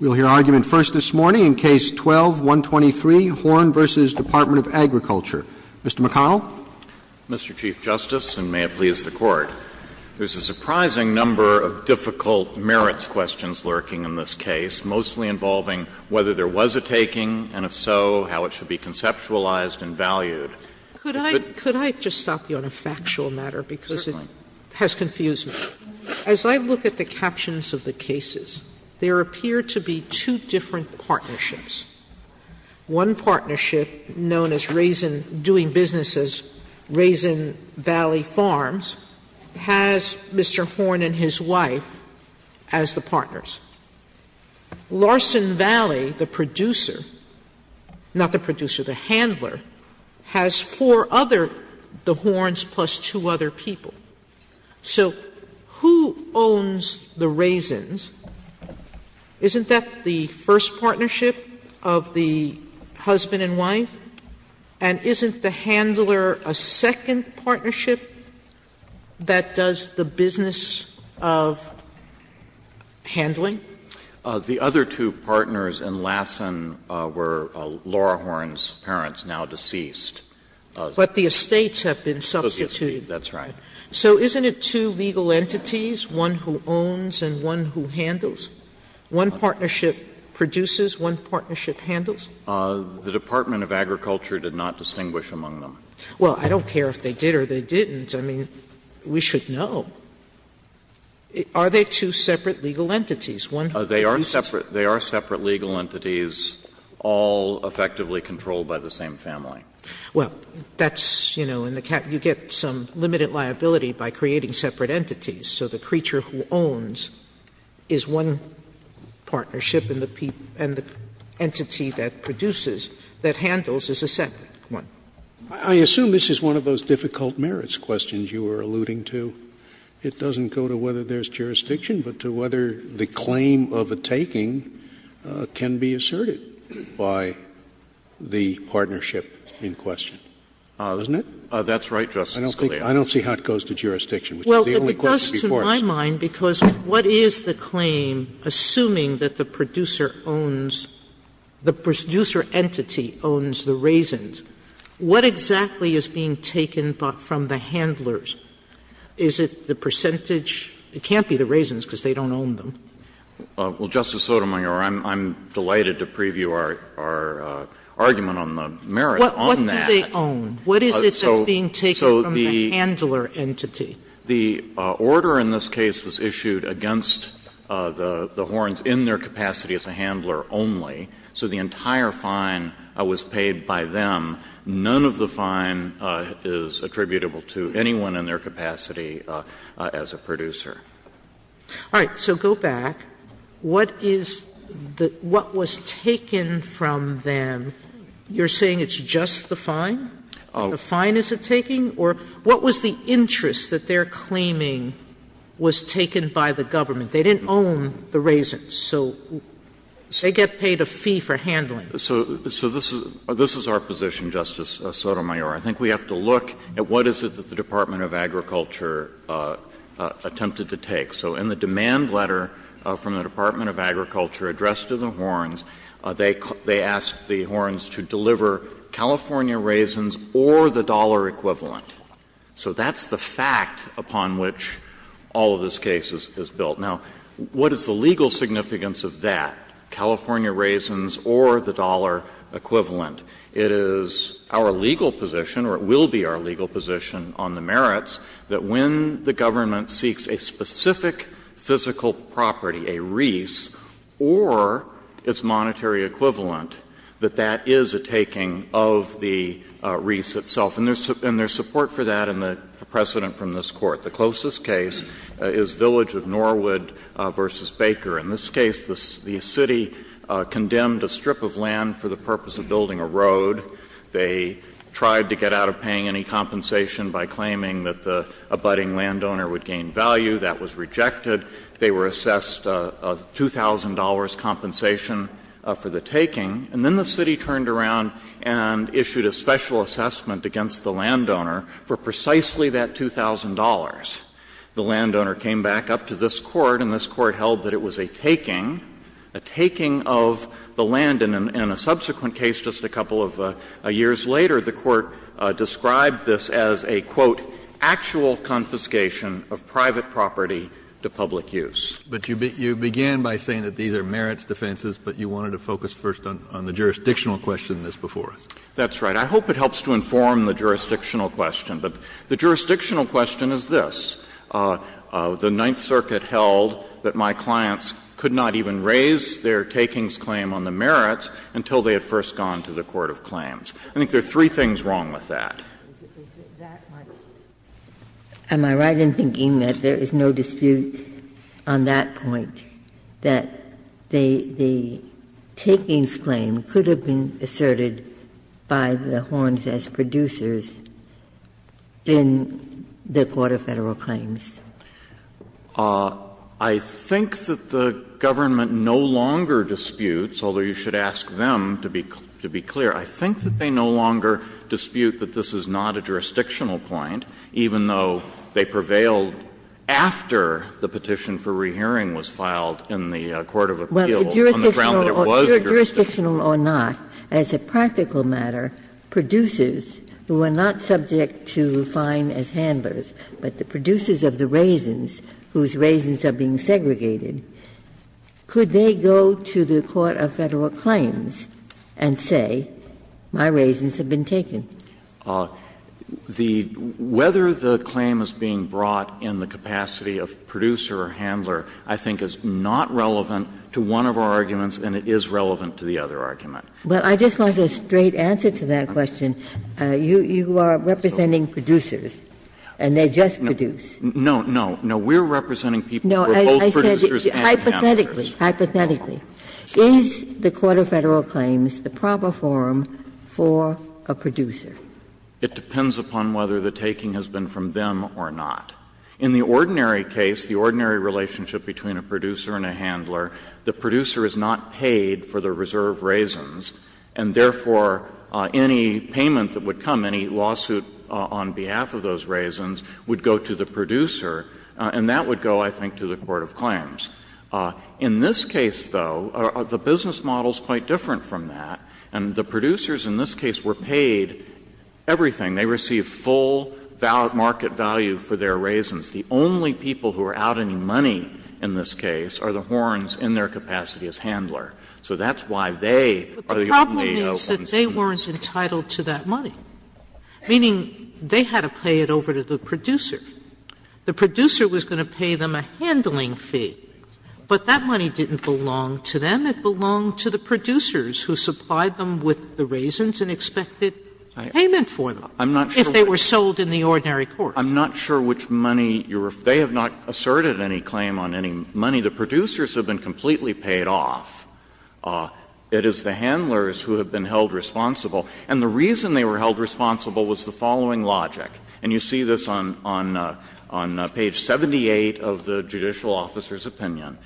We will hear argument first this morning in Case 12-123, Horne v. Department of Agriculture. Mr. McConnell. Mr. Chief Justice, and may it please the Court, there is a surprising number of difficult merits questions lurking in this case, mostly involving whether there was a taking, and if so, how it should be conceptualized and valued. Could I just stop you on a factual matter, because it has confused me. As I look at the captions of the cases, there appear to be two different partnerships. One partnership, known as Raisin, doing business as Raisin Valley Farms, has Mr. Horne and his wife as the partners. Larson Valley, the producer, not the producer, the handler, has four other, the Hornes plus two other people. So who owns the Raisins? Isn't that the first partnership of the husband and wife? And isn't the handler a second partnership that does the business of handling? The other two partners and Larson were Laura Horne's parents, now deceased. But the estates have been substituted. That's right. So isn't it two legal entities, one who owns and one who handles? One partnership produces, one partnership handles? The Department of Agriculture did not distinguish among them. Well, I don't care if they did or they didn't. I mean, we should know. Are they two separate legal entities? They are separate. They are separate legal entities, all effectively controlled by the same family. Well, that's, you know, in the cap, you get some limited liability by creating separate entities. So the creature who owns is one partnership and the entity that produces, that handles, is a separate one. I assume this is one of those difficult merits questions you were alluding to. It doesn't go to whether there's jurisdiction, but to whether the claim of a taking can be asserted by the partnership in question, doesn't it? That's right, Justice Scalia. I don't see how it goes to jurisdiction, which is the only question before us. Well, it does to my mind, because what is the claim, assuming that the producer owns, the producer entity owns the raisins, what exactly is being taken from the handlers? Is it the percentage? It can't be the raisins because they don't own them. Well, Justice Sotomayor, I'm delighted to preview our argument on the merit on that. What do they own? What is it that's being taken from the handler entity? The order in this case was issued against the horns in their capacity as a handler only, so the entire fine was paid by them. None of the fine is attributable to anyone in their capacity as a producer. All right. So go back. What is the – what was taken from them? You're saying it's just the fine? The fine is it taking? Or what was the interest that they're claiming was taken by the government? They didn't own the raisins, so they get paid a fee for handling. So this is our position, Justice Sotomayor. I think we have to look at what is it that the Department of Agriculture attempted to take. So in the demand letter from the Department of Agriculture addressed to the horns, they asked the horns to deliver California raisins or the dollar equivalent. So that's the fact upon which all of this case is built. Now, what is the legal significance of that, California raisins or the dollar equivalent? It is our legal position, or it will be our legal position on the merits, that when the government seeks a specific physical property, a reese, or its monetary equivalent, that that is a taking of the reese itself. And there's support for that in the precedent from this Court. The closest case is Village of Norwood v. Baker. In this case, the city condemned a strip of land for the purpose of building a road. They tried to get out of paying any compensation by claiming that the abutting landowner would gain value. That was rejected. They were assessed a $2,000 compensation for the taking. And then the city turned around and issued a special assessment against the landowner for precisely that $2,000. The landowner came back up to this Court and this Court held that it was a taking, a taking of the land. And in a subsequent case just a couple of years later, the Court described this as a, quote, ''actual confiscation of private property to public use. '' Kennedy, but you began by saying that these are merits defenses, but you wanted to focus first on the jurisdictional question that's before us. That's right. I hope it helps to inform the jurisdictional question. But the jurisdictional question is this. The Ninth Circuit held that my clients could not even raise their takings claim on the merits until they had first gone to the court of claims. I think there are three things wrong with that. Ginsburg. Am I right in thinking that there is no dispute on that point, that the takings claim could have been asserted by the Horns as producers in the court of Federal claims? I think that the government no longer disputes, although you should ask them to be clear. I think that they no longer dispute that this is not a jurisdictional point, even though they prevailed after the petition for rehearing was filed in the court of appeals. On the ground that it was jurisdictional. Ginsburg. If they are jurisdictional or not, as a practical matter, producers who are not subject to fine as handlers, but the producers of the raisins whose raisins are being segregated, could they go to the court of Federal claims and say, my raisins have been taken? Whether the claim is being brought in the capacity of producer or handler, I think is not relevant to one of our arguments, and it is relevant to the other argument. But I just want a straight answer to that question. You are representing producers, and they just produce. No, no, no. We are representing people who are both producers and handlers. No, I said hypothetically, hypothetically. Is the court of Federal claims the proper forum for a producer? It depends upon whether the taking has been from them or not. In the ordinary case, the ordinary relationship between a producer and a handler, the producer is not paid for the reserve raisins, and therefore, any payment that would come, any lawsuit on behalf of those raisins, would go to the producer, and that would go, I think, to the court of claims. In this case, though, the business model is quite different from that. And the producers in this case were paid everything. They received full market value for their raisins. The only people who are out any money in this case are the horns in their capacity as handler. So that's why they are the only ones who are entitled to that money. Sotomayor, meaning they had to pay it over to the producer. The producer was going to pay them a handling fee, but that money didn't belong to them. It belonged to the producers who supplied them with the raisins and expected payment for them. If they were sold in the ordinary course. I'm not sure which money you're – they have not asserted any claim on any money. The producers have been completely paid off. It is the handlers who have been held responsible. And the reason they were held responsible was the following logic. And you see this on page 78 of the judicial officer's opinion.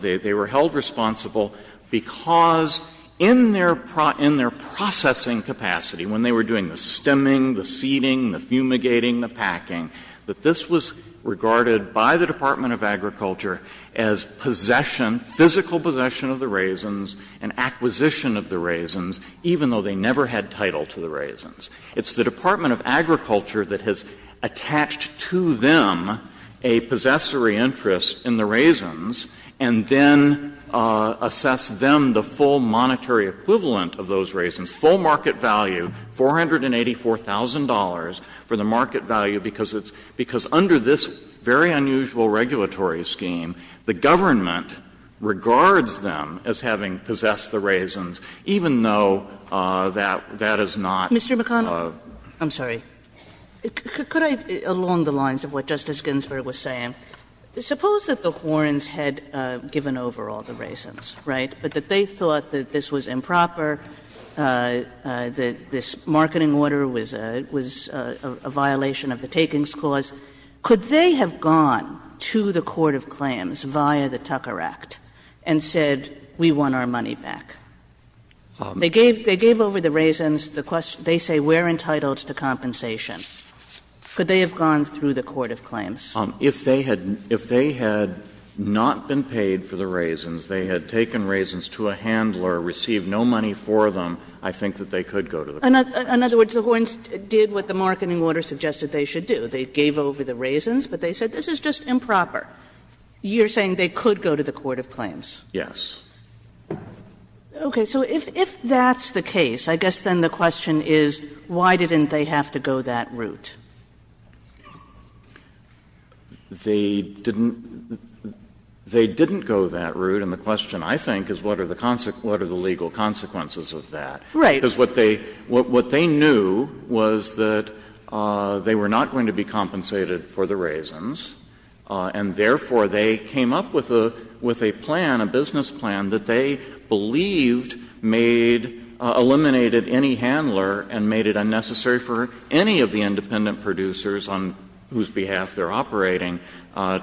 They were held responsible because in their processing capacity, when they were doing the stemming, the seeding, the fumigating, the packing, that this was regarded by the Department of Agriculture as possession, physical possession of the raisins and acquisition of the raisins, even though they never had title to the raisins. It's the Department of Agriculture that has attached to them a possessory interest in the raisins and then assessed them the full monetary equivalent of those raisins, its full market value, $484,000, for the market value, because it's – because under this very unusual regulatory scheme, the government regards them as having possessed the raisins, even though that is not a – Kagan Mr. McConnell, I'm sorry. Could I, along the lines of what Justice Ginsburg was saying, suppose that the Horns had given over all the raisins, right, but that they thought that this was improper, that this marketing order was a violation of the Takings Clause, could they have gone to the court of claims via the Tucker Act and said, we want our money back? They gave over the raisins. The question – they say we're entitled to compensation. Could they have gone through the court of claims? Jay If they had not been paid for the raisins, they had taken raisins to a handler, received no money for them, I think that they could go to the court of claims. Kagan In other words, the Horns did what the marketing order suggested they should do. They gave over the raisins, but they said this is just improper. You're saying they could go to the court of claims? Jay Yes. Kagan Okay. So if that's the case, I guess then the question is, why didn't they have to go that route? Jay They didn't – they didn't go that route, and the question, I think, is what are the legal consequences of that? Kagan Right. Jay Because what they knew was that they were not going to be compensated for the raisins, and therefore they came up with a plan, a business plan that they believed made – eliminated any handler and made it unnecessary for any of the independent producers on whose behalf they're operating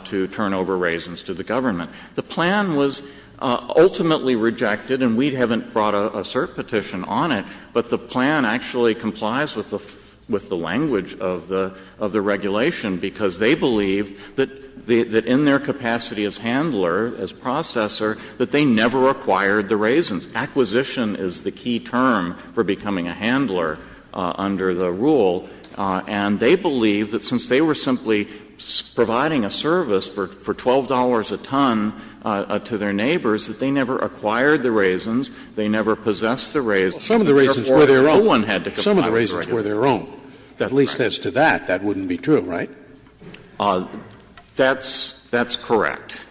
to turn over raisins to the government. The plan was ultimately rejected, and we haven't brought a cert petition on it, but the plan actually complies with the language of the regulation, because they believe that in their capacity as handler, as processor, that they never acquired the raisins. Acquisition is the key term for becoming a handler under the rule, and they believe that since they were simply providing a service for $12 a ton to their neighbors, that they never acquired the raisins, they never possessed the raisins, and therefore no one had to comply with the regulation. Scalia Some of the raisins were their own. At least as to that, that wouldn't be true, right? Jay That's correct.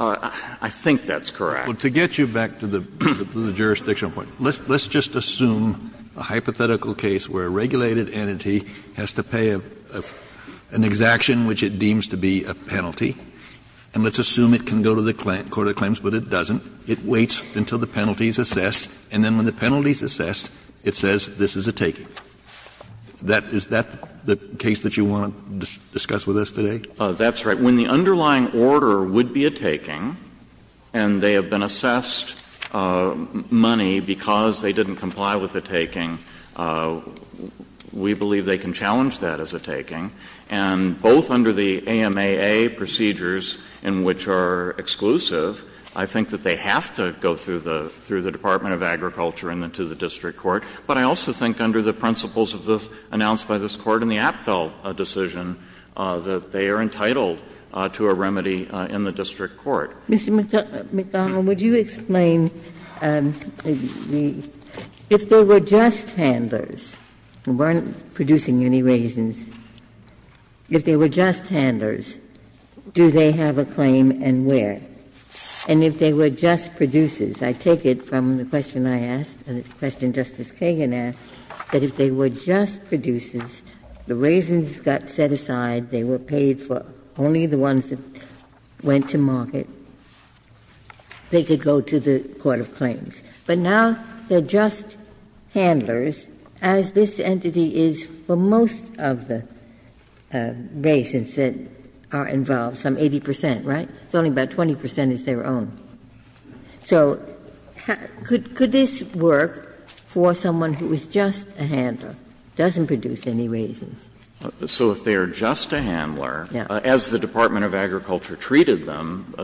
I think that's correct. Kennedy Well, to get you back to the jurisdictional point, let's just assume a hypothetical case where a regulated entity has to pay an exaction which it deems to be a penalty, and let's assume it can go to the court of claims, but it doesn't. It waits until the penalty is assessed, and then when the penalty is assessed, it says this is a taking. That — is that the case that you want to discuss with us today? Jay That's right. When the underlying order would be a taking, and they have been assessed money because they didn't comply with the taking, we believe they can challenge that as a taking. And both under the AMAA procedures, in which are exclusive, I think that they have to go through the Department of Agriculture and then to the district court. But I also think under the principles of the — announced by this Court in the Apfel decision, that they are entitled to a remedy in the district court. Ginsburg Mr. McDonnell, would you explain the — if they were just handlers who weren't producing any raisins, if they were just handlers, do they have a claim and where? And if they were just producers, I take it from the question I asked and the question Justice Kagan asked, that if they were just producers, the raisins got set aside, they were paid for, only the ones that went to market, they could go to the court of claims. But now they're just handlers, as this entity is for most of the raisins that are involved, some 80 percent, right? It's only about 20 percent is their own. So could this work for someone who is just a handler, doesn't produce any raisins? So if they are just a handler, as the Department of Agriculture treated them,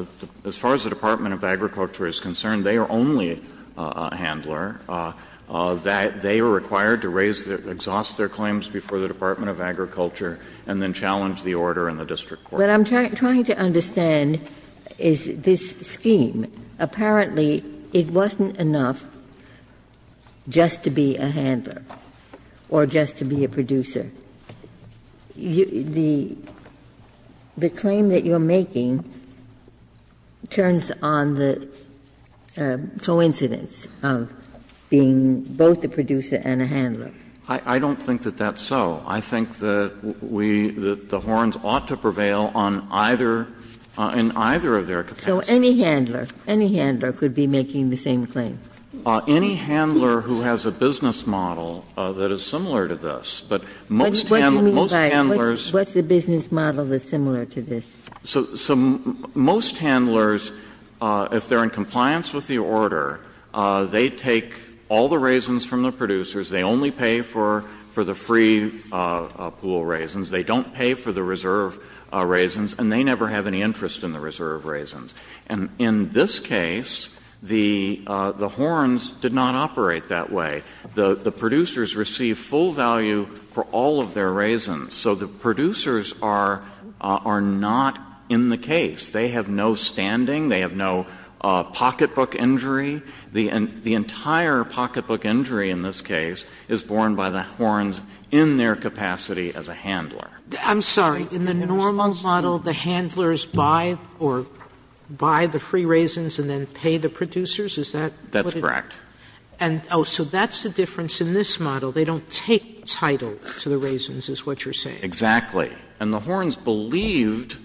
as far as the Department of Agriculture is concerned, they are only a handler. They are required to raise the — exhaust their claims before the Department of Agriculture and then challenge the order in the district court. But I'm trying to understand is this scheme, apparently it wasn't enough just to be a handler or just to be a producer. The claim that you're making turns on the coincidence of being both a producer and a handler. I don't think that that's so. I think that we — that the horns ought to prevail on either — in either of their capacities. So any handler, any handler could be making the same claim? Any handler who has a business model that is similar to this. But most handlers — What do you mean by what's the business model that's similar to this? So most handlers, if they are in compliance with the order, they take all the raisins from the producers. They only pay for the free pool raisins. They don't pay for the reserve raisins. And they never have any interest in the reserve raisins. And in this case, the horns did not operate that way. The producers receive full value for all of their raisins. So the producers are not in the case. They have no standing. They have no pocketbook injury. The entire pocketbook injury in this case is borne by the horns in their capacity Sotomayor, in response to you. Sotomayor, I'm sorry. In the normal model, the handlers buy or buy the free raisins and then pay the producers? Is that what it is? That's correct. And, oh, so that's the difference in this model. They don't take title to the raisins, is what you're saying. Exactly. And the horns believed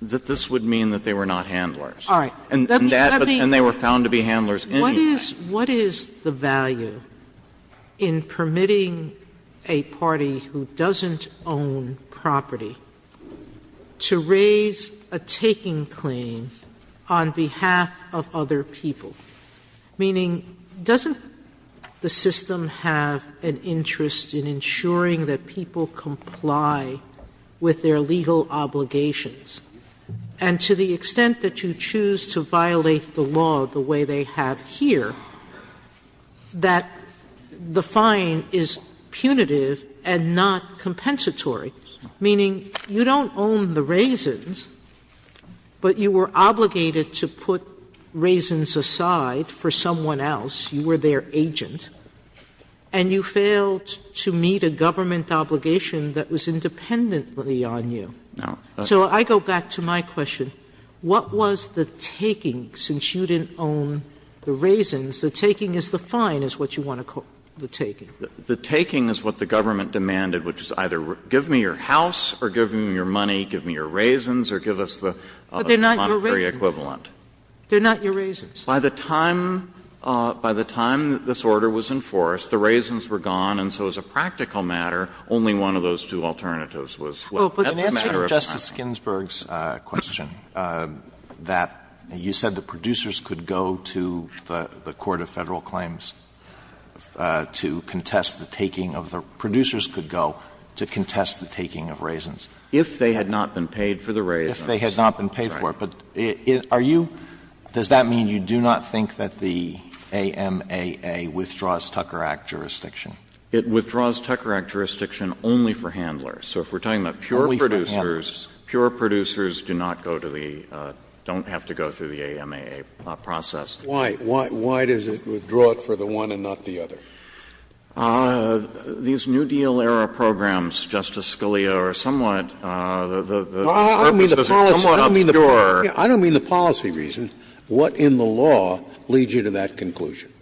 that this would mean that they were not handlers. All right. Let me — And they were found to be handlers anyway. What is the value in permitting a party who doesn't own property to raise a taking claim on behalf of other people? Meaning, doesn't the system have an interest in ensuring that people comply with their legal obligations? And to the extent that you choose to violate the law the way they have here, that the fine is punitive and not compensatory, meaning you don't own the raisins, but you were obligated to put raisins aside for someone else, you were their agent, and you failed to meet a government obligation that was independently on you. So I go back to my question. What was the taking, since you didn't own the raisins? The taking is the fine, is what you want to call the taking. The taking is what the government demanded, which is either give me your house or give me your money, give me your raisins, or give us the monetary equivalent. They're not your raisins. By the time — by the time this order was enforced, the raisins were gone, and so as a practical matter, only one of those two alternatives was what was the matter of time. Oh, but in answer to Justice Ginsburg's question, that you said the producers could go to the Court of Federal Claims to contest the taking of the — producers could go to contest the taking of raisins. If they had not been paid for the raisins. If they had not been paid for it. But are you — does that mean you do not think that the AMAA withdraws Tucker Act jurisdiction? It withdraws Tucker Act jurisdiction only for handlers. So if we're talking about pure producers, pure producers do not go to the — don't have to go through the AMAA process. Why? Why does it withdraw it for the one and not the other? These New Deal-era programs, Justice Scalia, are somewhat — the purpose is somewhat obscure. I don't mean the policy reason. What in the law leads you to that conclusion?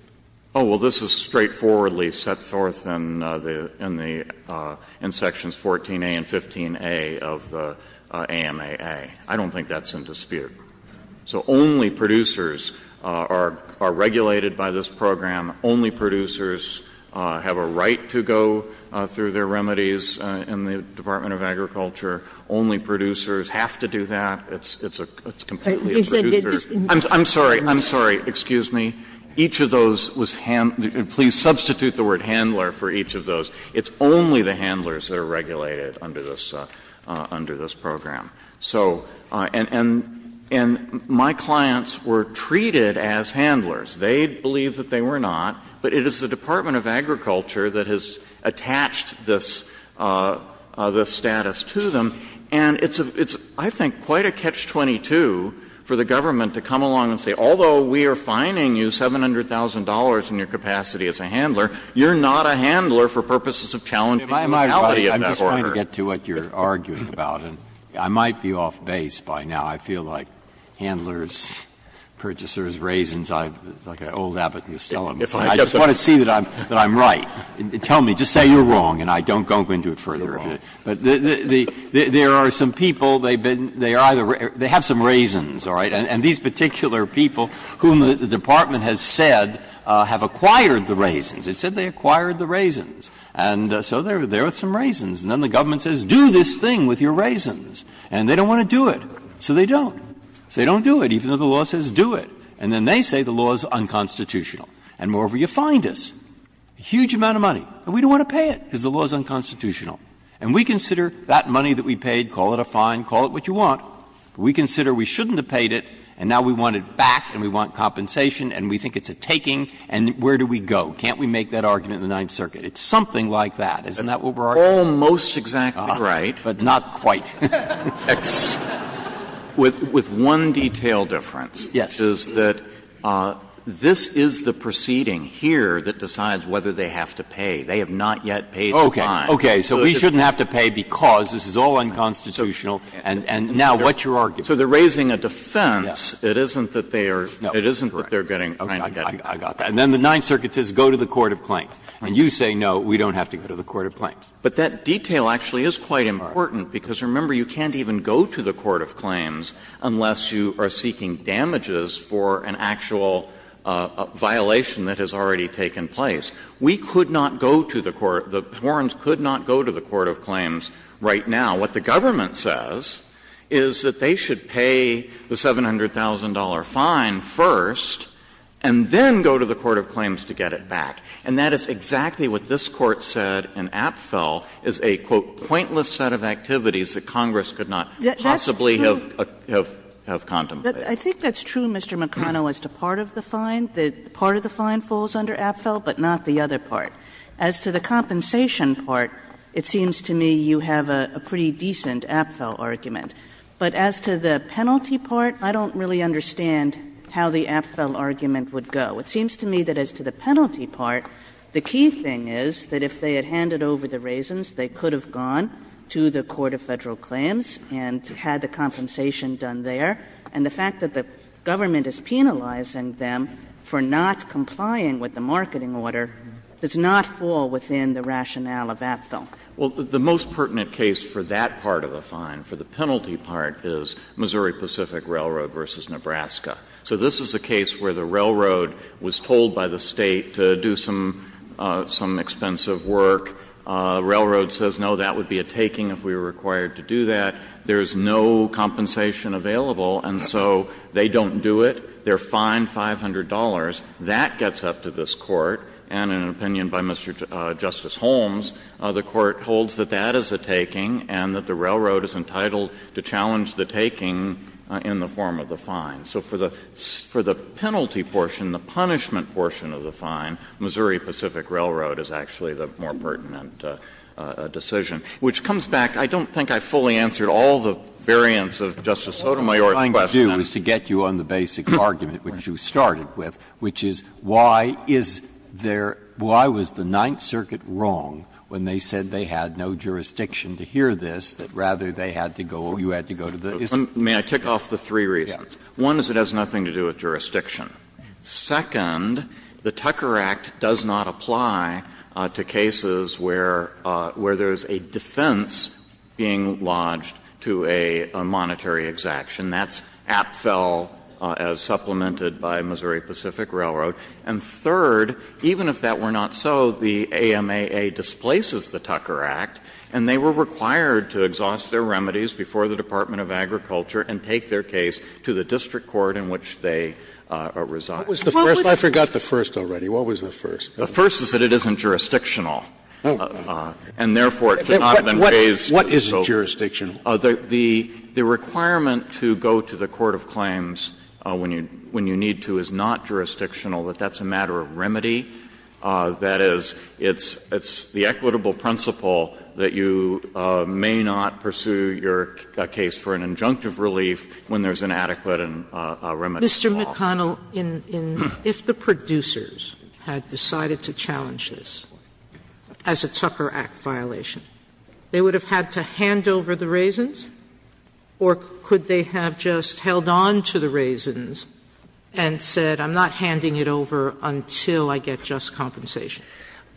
Oh, well, this is straightforwardly set forth in the — in the — in sections 14a and 15a of the AMAA. I don't think that's in dispute. So only producers are regulated by this program. Only producers have a right to go through their remedies in the Department of Agriculture. Only producers have to do that. It's a — it's completely a producer. I'm sorry. I'm sorry. Excuse me. Each of those was — please substitute the word handler for each of those. It's only the handlers that are regulated under this — under this program. So — and my clients were treated as handlers. They believed that they were not. But it is the Department of Agriculture that has attached this — this status to them. And it's a — it's, I think, quite a catch-22 for the government to come along and say, although we are fining you $700,000 in your capacity as a handler, you're not a handler for purposes of challenging the legality of that order. I'm just trying to get to what you're arguing about, and I might be off base by now. I feel like handlers, purchasers, raisins, I'm like an old abbot in the stele. I just want to see that I'm — that I'm right. Tell me. Just say you're wrong, and I don't go into it further. But there are some people, they've been — they have some raisins, all right? And these particular people whom the department has said have acquired the raisins. It said they acquired the raisins. And so there are some raisins. And then the government says, do this thing with your raisins, and they don't want to do it. So they don't. So they don't do it, even though the law says do it. And then they say the law is unconstitutional. And moreover, you fined us a huge amount of money, and we don't want to pay it because the law is unconstitutional. And we consider that money that we paid, call it a fine, call it what you want. We consider we shouldn't have paid it, and now we want it back and we want compensation and we think it's a taking, and where do we go? Can't we make that argument in the Ninth Circuit? It's something like that, isn't that what we're arguing? Almost exactly right, but not quite. With one detail difference is that this is the proceeding here that decides whether they have to pay. They have not yet paid the fine. Breyer, so we shouldn't have to pay because this is all unconstitutional, and now what's your argument? So they're raising a defense. It isn't that they are getting fined. I got that. And then the Ninth Circuit says go to the court of claims. And you say, no, we don't have to go to the court of claims. But that detail actually is quite important, because remember, you can't even go to the court of claims unless you are seeking damages for an actual violation that has already taken place. We could not go to the court of the warrants, could not go to the court of claims right now. What the government says is that they should pay the $700,000 fine first and then go to the court of claims to get it back. And that is exactly what this Court said in Apfel, is a, quote, ''pointless set of activities that Congress could not possibly have contemplated.'' I think that's true, Mr. McConnell, as to part of the fine, that part of the fine falls under Apfel, but not the other part. As to the compensation part, it seems to me you have a pretty decent Apfel argument. But as to the penalty part, I don't really understand how the Apfel argument would go. It seems to me that as to the penalty part, the key thing is that if they had handed over the raisins, they could have gone to the court of Federal claims and had the compensation done there. And the fact that the government is penalizing them for not complying with the marketing order does not fall within the rationale of Apfel. Well, the most pertinent case for that part of the fine, for the penalty part, is Missouri Pacific Railroad v. Nebraska. So this is a case where the railroad was told by the State to do some expensive work. Railroad says, no, that would be a taking if we were required to do that. There is no compensation available, and so they don't do it. They are fined $500. That gets up to this Court, and in an opinion by Mr. Justice Holmes, the Court holds that that is a taking and that the railroad is entitled to challenge the taking in the form of the fine. So for the penalty portion, the punishment portion of the fine, Missouri Pacific Railroad is actually the more pertinent decision, which comes back. I don't think I fully answered all the variants of Justice Sotomayor's question. Breyer, what I'm trying to do is to get you on the basic argument, which you started with, which is why is there why was the Ninth Circuit wrong when they said they had no jurisdiction to hear this, that rather they had to go or you had to go to the There are three reasons. One is it has nothing to do with jurisdiction. Second, the Tucker Act does not apply to cases where there is a defense being lodged to a monetary exaction. That's APFEL as supplemented by Missouri Pacific Railroad. And third, even if that were not so, the AMAA displaces the Tucker Act, and they were required to exhaust their remedies before the Department of Agriculture and take their case to the district court in which they reside. Scalia What was the first? I forgot the first already. What was the first? The first is that it isn't jurisdictional. And therefore, it could not have been raised to the Supreme Court. What is jurisdictional? The requirement to go to the court of claims when you need to is not jurisdictional, that that's a matter of remedy. That is, it's the equitable principle that you may not pursue your case for an injunctive relief when there is inadequate and a remedy involved. Sotomayor Mr. McConnell, if the producers had decided to challenge this as a Tucker Act violation, they would have had to hand over the raisins? Or could they have just held on to the raisins and said, I'm not handing it over until I get just compensation?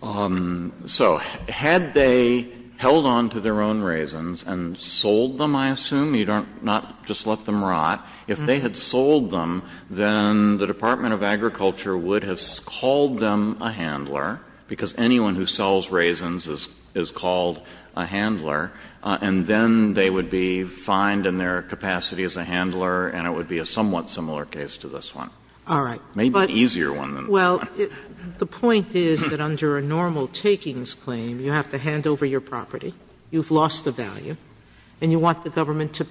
McConnell So had they held on to their own raisins and sold them, I assume? You don't not just let them rot. If they had sold them, then the Department of Agriculture would have called them a handler, because anyone who sells raisins is called a handler, and then they would be fined in their capacity as a handler, and it would be a somewhat similar case to this one. Sotomayor All right. McConnell Maybe an easier one than this one. Sotomayor Well, the point is that under a normal takings claim, you have to hand over the raisins and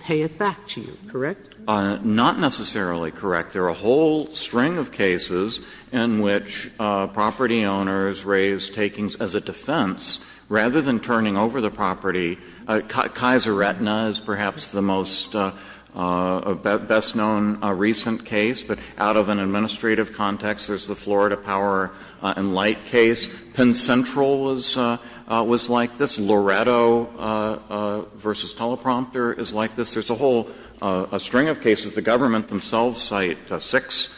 pay it back to you, correct? McConnell Not necessarily correct. There are a whole string of cases in which property owners raise takings as a defense. Rather than turning over the property, Kaiser-Retina is perhaps the most best-known recent case, but out of an administrative context, there is the Florida Power and Light case. Penn Central was like this. Loretto v. Teleprompter is like this. There is a whole string of cases. The government themselves cite six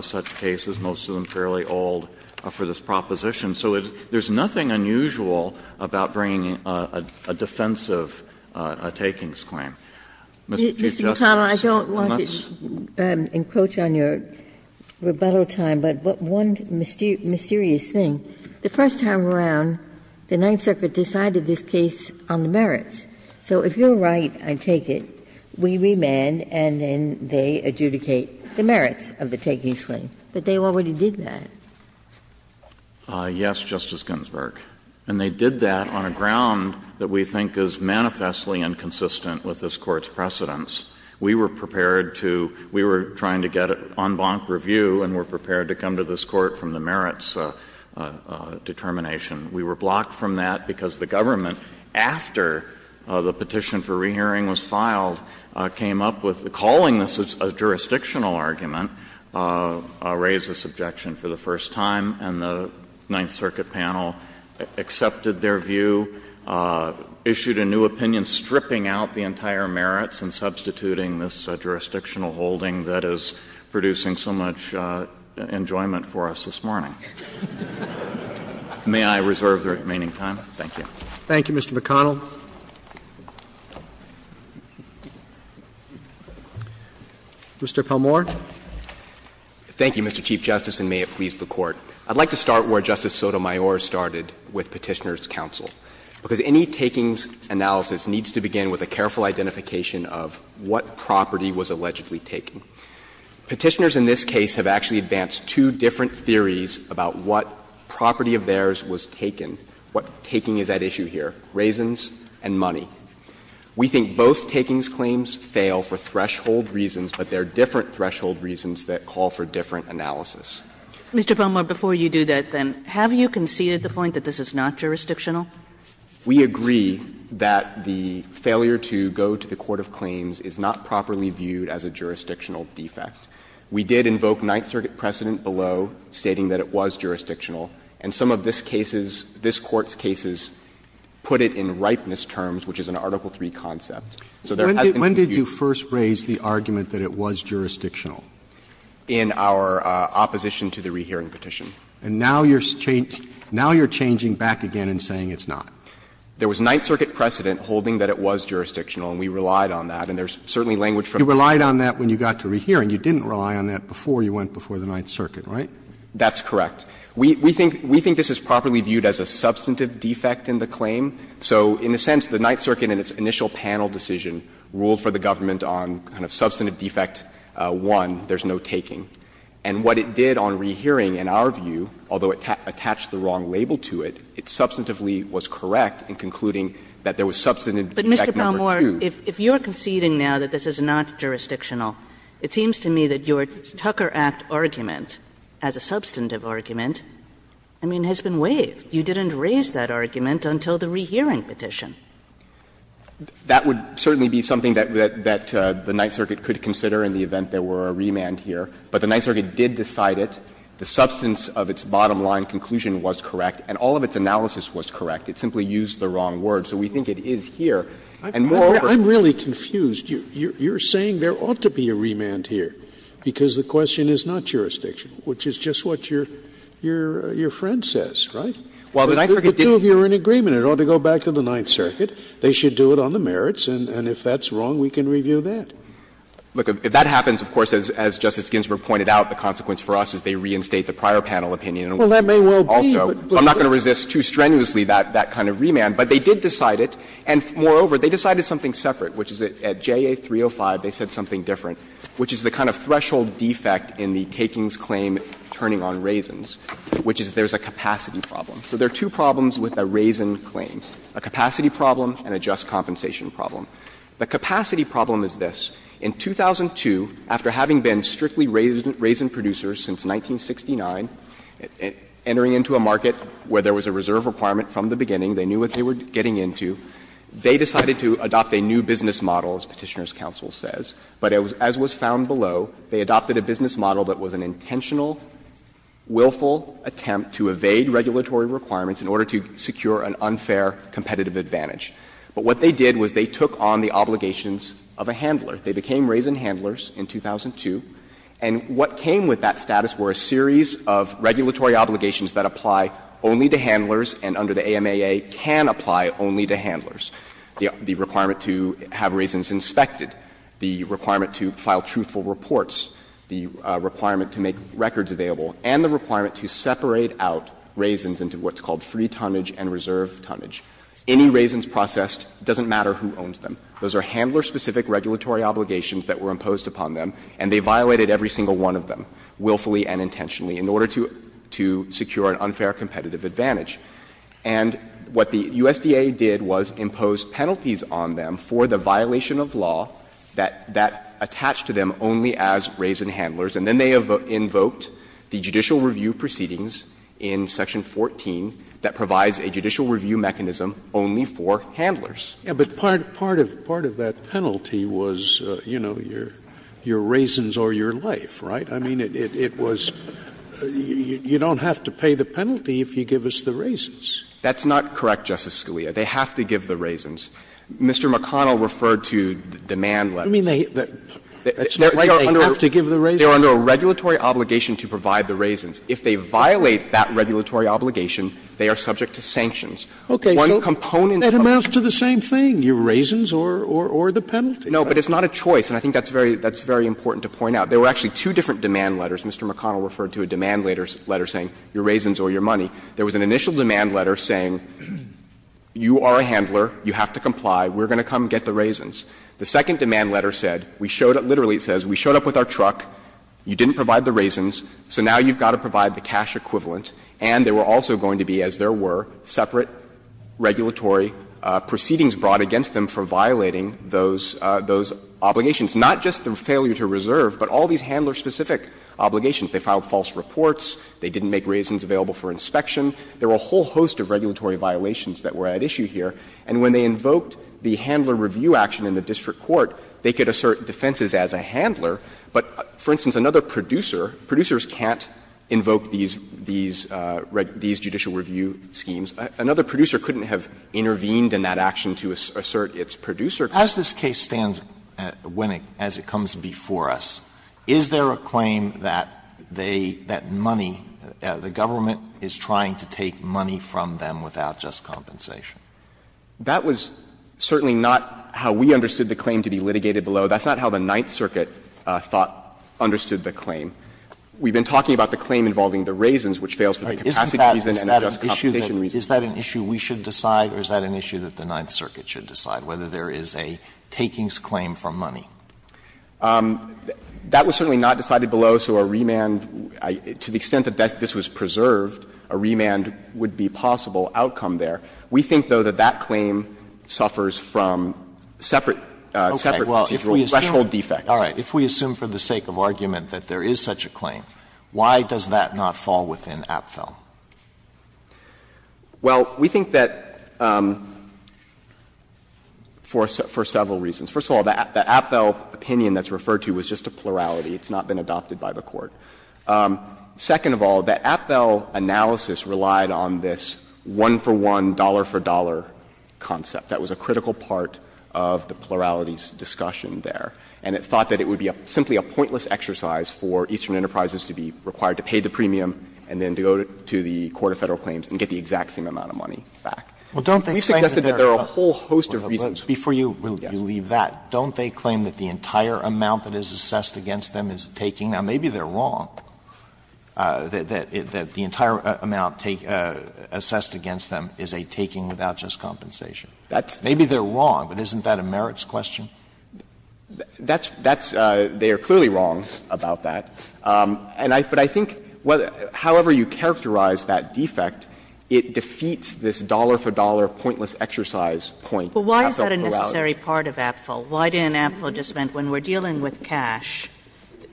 such cases, most of them fairly old, for this proposition. So there is nothing unusual about bringing a defensive takings claim. Ms. Ginsburg Mr. McConnell, I don't want to encroach on your rebuttal time, but one mysterious thing. The first time around, the Ninth Circuit decided this case on the merits. So if you are right, I take it, we remand and then they adjudicate the merits of the takings claim, but they already did that. McConnell Yes, Justice Ginsburg, and they did that on a ground that we think is manifestly inconsistent with this Court's precedents. We were prepared to we were trying to get it on bonk review and we were prepared to come to this Court from the merits determination. We were blocked from that because the government, after the petition for rehearing was filed, came up with calling this a jurisdictional argument, raised this objection for the first time, and the Ninth Circuit panel accepted their view, issued a new opinion stripping out the entire merits and substituting this jurisdictional holding that is producing so much enjoyment for us this morning. May I reserve the remaining time? Thank you. Roberts Thank you, Mr. McConnell. Mr. Palmore. Palmore Thank you, Mr. Chief Justice, and may it please the Court. I would like to start where Justice Sotomayor started with Petitioner's counsel, because any takings analysis needs to begin with a careful identification of what property was allegedly taken. Petitioners in this case have actually advanced two different theories about what property of theirs was taken, what taking is at issue here, raisins and money. We think both takings claims fail for threshold reasons, but they are different threshold reasons that call for different analysis. Kagan Mr. Palmore, before you do that then, have you conceded the point that this is not jurisdictional? Palmore We agree that the failure to go to the court of claims is not properly viewed as a jurisdictional defect. We did invoke Ninth Circuit precedent below stating that it was jurisdictional, and some of this case's, this Court's cases put it in ripeness terms, which is an Article So there has been some view that this is not jurisdictional. Roberts When did you first raise the argument that it was jurisdictional? Palmore In our opposition to the rehearing petition. Roberts And now you're changing back again and saying it's not. Palmore There was Ninth Circuit precedent holding that it was jurisdictional, and we relied on that. And there's certainly language for it. Roberts You relied on that when you got to rehearing. You didn't rely on that before you went before the Ninth Circuit, right? Palmore That's correct. We think this is properly viewed as a substantive defect in the claim. So in a sense, the Ninth Circuit in its initial panel decision ruled for the government on kind of substantive defect one, there's no taking. And what it did on rehearing, in our view, although it attached the wrong label to it, it substantively was correct in concluding that there was substantive Kagan But, Mr. Palmore, if you're conceding now that this is not jurisdictional, it seems to me that your Tucker Act argument as a substantive argument, I mean, has been waived. You didn't raise that argument until the rehearing petition. Palmore That would certainly be something that the Ninth Circuit could consider in the event there were a remand here. But the Ninth Circuit did decide it. The substance of its bottom-line conclusion was correct, and all of its analysis was correct. It simply used the wrong word. So we think it is here. And moreover, Scalia I'm really confused. You're saying there ought to be a remand here, because the question is not jurisdictional, which is just what your friend says, right? Palmore While the Ninth Circuit didn't Scalia But the two of you are in agreement. It ought to go back to the Ninth Circuit. They should do it on the merits, and if that's wrong, we can review that. Palmore Look, if that happens, of course, as Justice Ginsburg pointed out, the consequence for us is they reinstate the prior panel opinion. Scalia Well, that may well be, but we'll see. Palmore So I'm not going to resist too strenuously that kind of remand. But they did decide it, and moreover, they decided something separate, which is at JA 305 they said something different, which is the kind of threshold defect in the takings claim turning on raisins, which is there's a capacity problem. So there are two problems with a raisin claim, a capacity problem and a just compensation problem. The capacity problem is this. In 2002, after having been strictly raisin producers since 1969, entering into a market where there was a reserve requirement from the beginning, they knew what they were getting into, they decided to adopt a new business model, as Petitioner's counsel says, but as was found below, they adopted a business model that was an intentional, willful attempt to evade regulatory requirements in order to secure an unfair competitive advantage. But what they did was they took on the obligations of a handler. They became raisin handlers in 2002, and what came with that status were a series of regulatory obligations that apply only to handlers and under the AMAA can apply only to handlers. The requirement to have raisins inspected, the requirement to file truthful reports, the requirement to make records available, and the requirement to separate out raisins into what's called free tonnage and reserve tonnage. Any raisins processed, it doesn't matter who owns them. Those are handler-specific regulatory obligations that were imposed upon them, and they violated every single one of them willfully and intentionally in order to secure an unfair competitive advantage. And what the USDA did was impose penalties on them for the violation of law that attached to them only as raisin handlers, and then they invoked the judicial review proceedings in Section 14 that provides a judicial review mechanism only for handlers. Scalia, but part of that penalty was, you know, your raisins or your life, right? I mean, it was you don't have to pay the penalty if you give us the raisins. That's not correct, Justice Scalia. They have to give the raisins. Mr. McConnell referred to demand limits. I mean, they have to give the raisins? They are under a regulatory obligation to provide the raisins. If they violate that regulatory obligation, they are subject to sanctions. One component of the penalty is not a choice, and I think that's very important to point out. There were actually two different demand letters. Mr. McConnell referred to a demand letter saying your raisins or your money. There was an initial demand letter saying you are a handler, you have to comply, we're going to come get the raisins. The second demand letter said, we showed up, literally it says, we showed up with our truck, you didn't provide the raisins, so now you've got to provide the cash equivalent, and there were also going to be, as there were, separate regulatory proceedings brought against them for violating those obligations, not just the failure to reserve, but all these handler-specific obligations. They filed false reports, they didn't make raisins available for inspection. There were a whole host of regulatory violations that were at issue here, and when they invoked the handler review action in the district court, they could assert defenses as a handler, but, for instance, another producer, producers can't invoke these judicial review schemes, another producer couldn't have intervened in that action to assert its producer. Alitoso, as this case stands, as it comes before us, is there a claim that they, that money, the government is trying to take money from them without just compensation? That was certainly not how we understood the claim to be litigated below. That's not how the Ninth Circuit thought, understood the claim. We've been talking about the claim involving the raisins, which fails for the capacity reason and the just compensation reason. Alitoso, is that an issue we should decide or is that an issue that the Ninth Circuit should decide, whether there is a takings claim for money? That was certainly not decided below, so a remand, to the extent that this was preserved, a remand would be possible outcome there. We think, though, that that claim suffers from separate, separate procedural defects. Alitoso, if we assume for the sake of argument that there is such a claim, why does that not fall within APFEL? Well, we think that, for several reasons. First of all, the APFEL opinion that's referred to was just a plurality. It's not been adopted by the Court. Second of all, the APFEL analysis relied on this one-for-one, dollar-for-dollar concept. That was a critical part of the plurality's discussion there. And it thought that it would be simply a pointless exercise for Eastern Enterprises to be required to pay the premium and then to go to the Court of Federal Claims and get the exact same amount of money back. We've suggested that there are a whole host of reasons. Alitoso, before you leave that, don't they claim that the entire amount that is assessed against them is a taking? Now, maybe they're wrong, that the entire amount assessed against them is a taking without just compensation. Maybe they're wrong, but isn't that a merits question? That's — they are clearly wrong about that. And I — but I think however you characterize that defect, it defeats this dollar-for-dollar, pointless exercise point that APFEL put out. But why is that a necessary part of APFEL? Why didn't APFEL just mean when we're dealing with cash,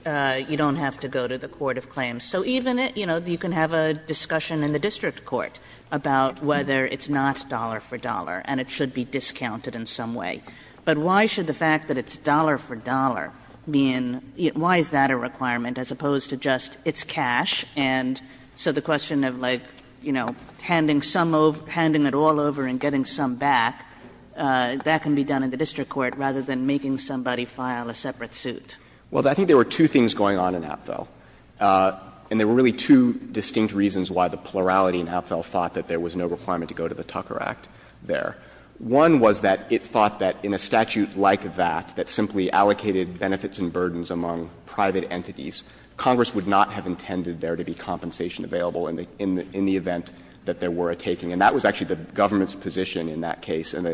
you don't have to go to the Court of Claims? So even, you know, you can have a discussion in the district court about whether it's not dollar-for-dollar and it should be discounted in some way. But why should the fact that it's dollar-for-dollar mean — why is that a requirement as opposed to just it's cash? And so the question of, like, you know, handing some over — handing it all over and getting some back, that can be done in the district court rather than making somebody file a separate suit. Well, I think there were two things going on in APFEL, and there were really two distinct reasons why the plurality in APFEL thought that there was no requirement to go to the Tucker Act there. One was that it thought that in a statute like that, that simply allocated benefits and burdens among private entities, Congress would not have intended there to be compensation available in the event that there were a taking. And that was actually the government's position in that case, and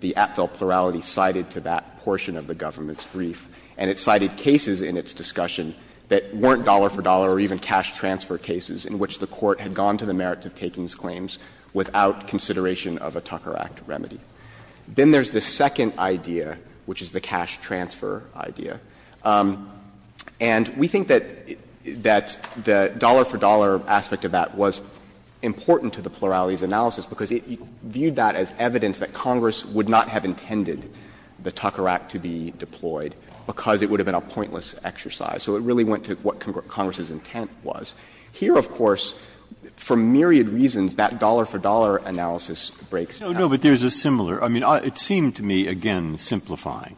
the APFEL plurality cited to that portion of the government's brief. And it cited cases in its discussion that weren't dollar-for-dollar or even cash-transfer cases in which the court had gone to the merits-of-takings claims without consideration of a Tucker Act remedy. Then there's the second idea, which is the cash-transfer idea. And we think that the dollar-for-dollar aspect of that was important to the plurality's analysis because it viewed that as evidence that Congress would not have intended the Tucker Act to be deployed because it would have been a pointless exercise. So it really went to what Congress's intent was. Here, of course, for myriad reasons, that dollar-for-dollar analysis breaks down. Breyer, but there's a similar – I mean, it seemed to me, again, simplifying,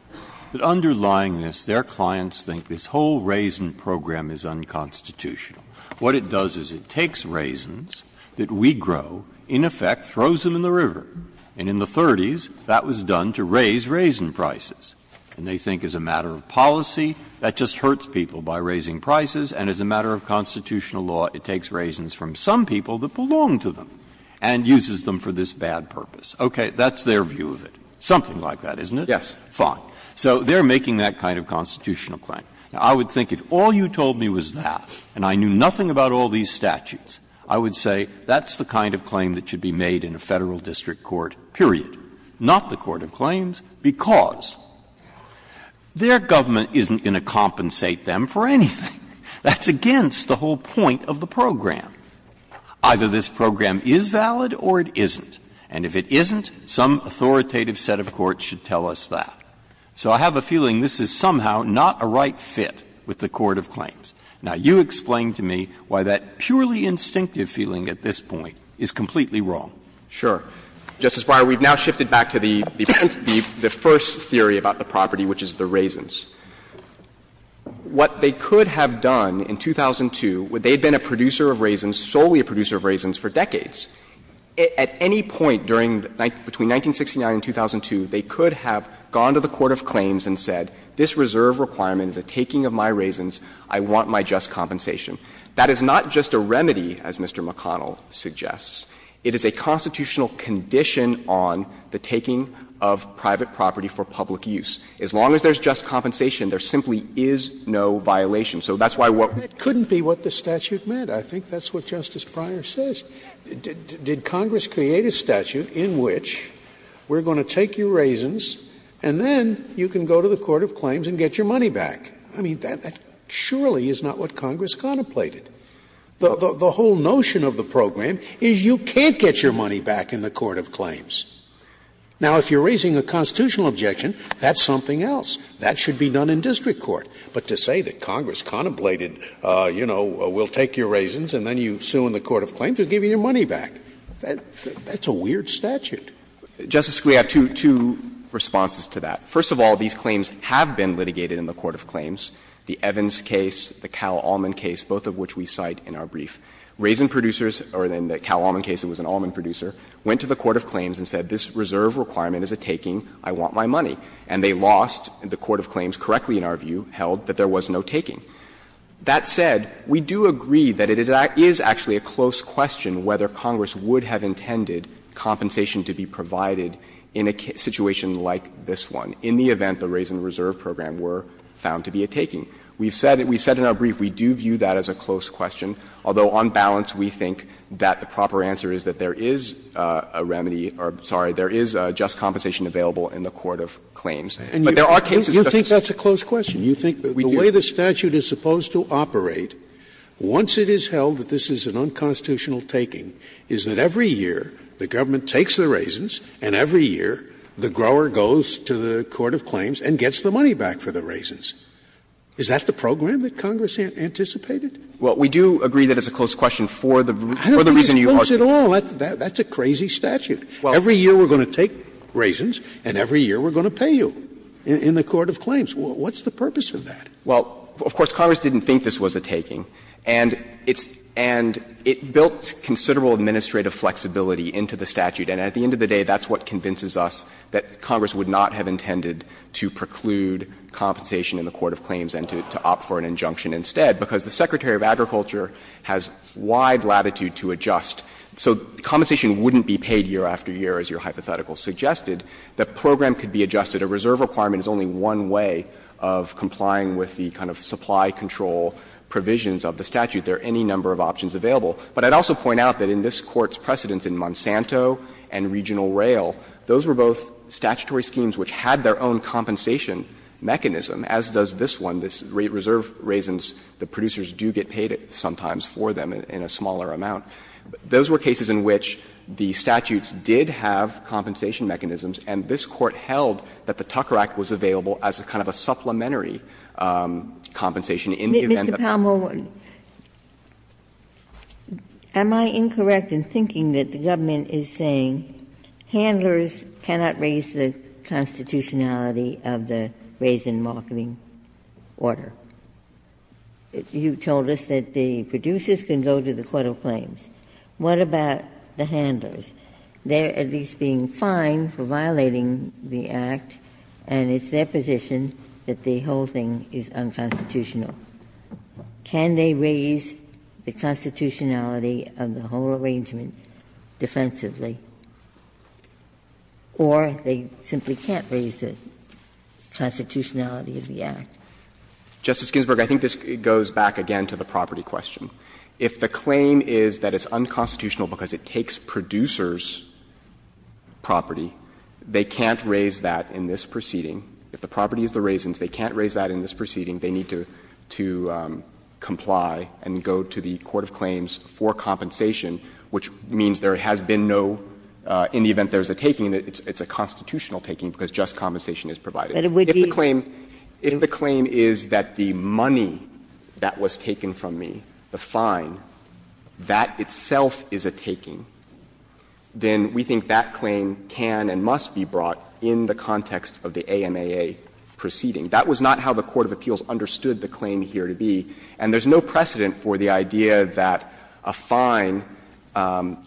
that underlying this, their clients think this whole raisin program is unconstitutional. What it does is it takes raisins that we grow, in effect throws them in the river, and in the 30s that was done to raise raisin prices. And they think as a matter of policy, that just hurts people by raising prices. And as a matter of constitutional law, it takes raisins from some people that belong to them and uses them for this bad purpose. Okay. That's their view of it. Something like that, isn't it? Yes. Fine. So they're making that kind of constitutional claim. Now, I would think if all you told me was that, and I knew nothing about all these statutes, I would say that's the kind of claim that should be made in a Federal district court, period, not the court of claims, because their government isn't going to compensate them for anything. That's against the whole point of the program. Either this program is valid or it isn't. And if it isn't, some authoritative set of courts should tell us that. So I have a feeling this is somehow not a right fit with the court of claims. Now, you explain to me why that purely instinctive feeling at this point is completely wrong. Sure. Justice Breyer, we've now shifted back to the first theory about the property, which is the raisins. What they could have done in 2002, they had been a producer of raisins, solely a producer of raisins, for decades. At any point during the 19 — between 1969 and 2002, they could have gone to the court of claims and said, this reserve requirement is a taking of my raisins, I want my just compensation. That is not just a remedy, as Mr. McConnell suggests. It is a constitutional condition on the taking of private property for public use. As long as there's just compensation, there simply is no violation. So that's why what we're saying is that's not what the statute meant. I think that's what Justice Breyer says. Did Congress create a statute in which we're going to take your raisins and then you can go to the court of claims and get your money back? I mean, that surely is not what Congress contemplated. The whole notion of the program is you can't get your money back in the court of claims. Now, if you're raising a constitutional objection, that's something else. That should be done in district court. But to say that Congress contemplated, you know, we'll take your raisins and then you sue in the court of claims, we'll give you your money back, that's a weird statute. Justice Scalia, two responses to that. First of all, these claims have been litigated in the court of claims. The Evans case, the Cal-Allman case, both of which we cite in our brief. Raisin producers, or in the Cal-Allman case it was an almond producer, went to the court of claims and said this reserve requirement is a taking, I want my money. And they lost the court of claims correctly, in our view, held that there was no taking. That said, we do agree that it is actually a close question whether Congress would have intended compensation to be provided in a situation like this one in the event the raisin reserve program were found to be a taking. We've said in our brief we do view that as a close question, although on balance we think that the proper answer is that there is a remedy or, sorry, there is a just compensation available in the court of claims. But there are cases such as this. Scalia, you think that's a close question? You think the way the statute is supposed to operate, once it is held that this is an unconstitutional taking, is that every year the government takes the raisins and every year the grower goes to the court of claims and gets the money back for the raisins. Is that the program that Congress anticipated? Well, we do agree that it's a close question for the reason you argued. I don't think it's close at all. That's a crazy statute. Every year we're going to take raisins and every year we're going to pay you in the court of claims. What's the purpose of that? Well, of course, Congress didn't think this was a taking. And it's and it built considerable administrative flexibility into the statute. And at the end of the day, that's what convinces us that Congress would not have intended to preclude compensation in the court of claims and to opt for an injunction instead, because the Secretary of Agriculture has wide latitude to adjust. So compensation wouldn't be paid year after year, as your hypothetical suggested. The program could be adjusted. A reserve requirement is only one way of complying with the kind of supply control provisions of the statute. There are any number of options available. But I'd also point out that in this Court's precedence in Monsanto and regional rail, those were both statutory schemes which had their own compensation mechanism, as does this one, this reserve raisins. The producers do get paid sometimes for them in a smaller amount. Those were cases in which the statutes did have compensation mechanisms, and this Court held that the Tucker Act was available as a kind of a supplementary compensation in the event that the State had a surplus. Ginsburg-Miller No, am I incorrect in thinking that the government is saying handlers cannot raise the constitutionality of the raisin marketing order? You told us that the producers can go to the court of claims. What about the handlers? They're at least being fined for violating the Act, and it's their position that the whole thing is unconstitutional. Can they raise the constitutionality of the whole arrangement defensively, or they simply can't raise the constitutionality of the Act? Justice Ginsburg, I think this goes back again to the property question. If the claim is that it's unconstitutional because it takes producers' property, they can't raise that in this proceeding. If the property is the raisins, they can't raise that in this proceeding. They need to comply and go to the court of claims for compensation, which means there has been no – in the event there's a taking, it's a constitutional taking because just compensation is provided. If the claim is that the money that was taken from me, the fine, that itself is a taking, then we think that claim can and must be brought in the context of the AMAA proceeding. That was not how the court of appeals understood the claim here to be, and there's no precedent for the idea that a fine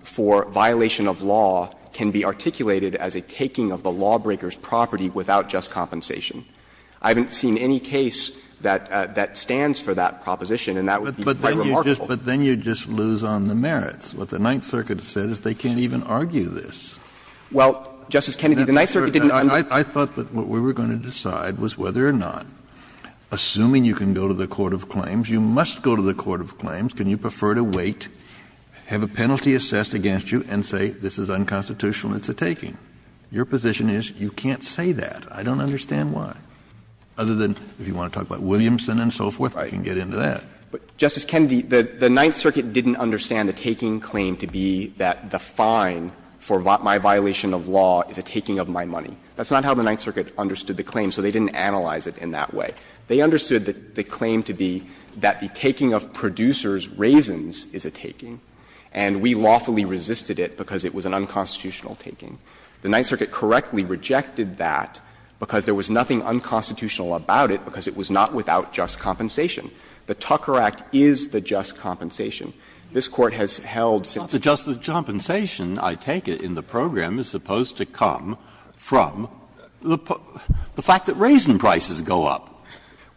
for violation of law can be articulated as a taking of the lawbreaker's property without just compensation. I haven't seen any case that stands for that proposition, and that would be quite remarkable. Kennedy, the Ninth Circuit didn't understand that. Kennedy, the Ninth Circuit didn't understand that. And I thought that what we were going to decide was whether or not, assuming you can go to the court of claims, you must go to the court of claims, can you prefer to wait, have a penalty assessed against you, and say this is unconstitutional and it's a taking. Your position is you can't say that. I don't understand why. Other than if you want to talk about Williamson and so forth, I can get into that. Justice Kennedy, the Ninth Circuit didn't understand a taking claim to be that the fine for my violation of law is a taking of my money. That's not how the Ninth Circuit understood the claim, so they didn't analyze it in that way. They understood the claim to be that the taking of producers' raisins is a taking, and we lawfully resisted it because it was an unconstitutional taking. The Ninth Circuit correctly rejected that because there was nothing unconstitutional about it because it was not without just compensation. The Tucker Act is the just compensation. This Court has held since it's not just the just compensation. I take it in the program is supposed to come from the fact that raisin prices go up.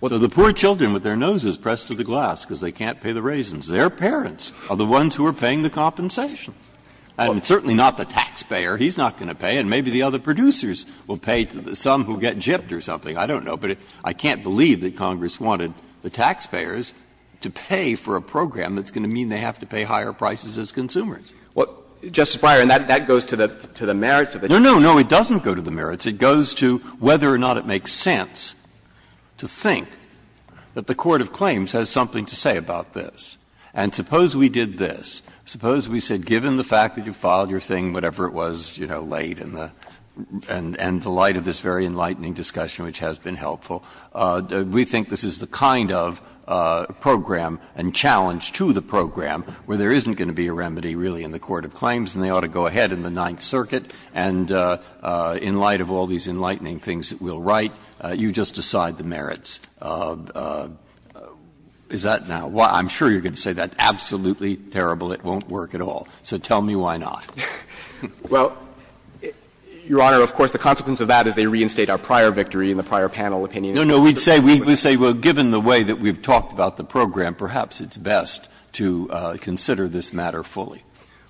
So the poor children with their noses pressed to the glass because they can't pay the raisins, their parents are the ones who are paying the compensation. And certainly not the taxpayer. He's not going to pay, and maybe the other producers will pay, some will get gypped or something. I don't know, but I can't believe that Congress wanted the taxpayers to pay for a program that's going to mean they have to pay higher prices as consumers. What, Justice Breyer, and that goes to the merits of it? No, no, no, it doesn't go to the merits. It goes to whether or not it makes sense to think that the court of claims has something to say about this. And suppose we did this. Suppose we said, given the fact that you filed your thing, whatever it was, you know, late in the end, in the light of this very enlightening discussion, which has been helpful, we think this is the kind of program and challenge to the program where there isn't going to be a remedy really in the court of claims and they ought to go ahead in the Ninth Circuit, and in light of all these enlightening things that we'll write, you just decide the merits. Is that now why? I'm sure you're going to say that's absolutely terrible, it won't work at all. So tell me why not. Well, Your Honor, of course, the consequence of that is they reinstate our prior victory in the prior panel opinion. No, no, we'd say, well, given the way that we've talked about the program, perhaps it's best to consider this matter fully.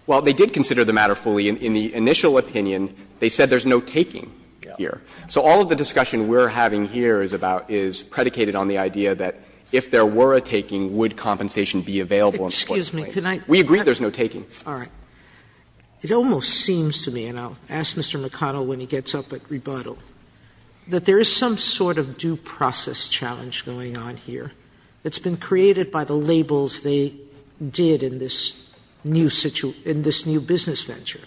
Well, they did consider the matter fully. In the initial opinion, they said there's no taking here. So all of the discussion we're having here is about – is predicated on the idea that if there were a taking, would compensation be available in the court of claims. Sotomayor, we agree there's no taking. Sotomayor, it almost seems to me, and I'll ask Mr. McConnell when he gets up at rebuttal, that there is some sort of due process challenge going on here that's been created by the labels they did in this new business venture.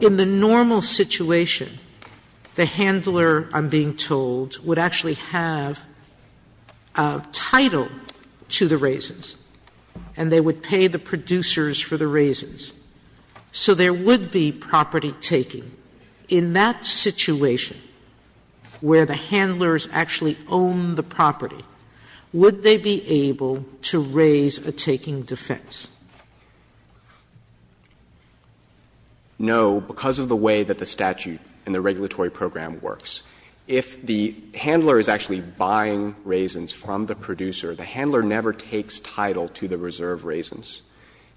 In the normal situation, the handler, I'm being told, would actually have a title to the raisins, and they would pay the producers for the raisins. So there would be property taking. In that situation, where the handlers actually own the property, would they be able to raise a taking defense? No, because of the way that the statute and the regulatory program works. If the handler is actually buying raisins from the producer, the handler never takes title to the reserve raisins,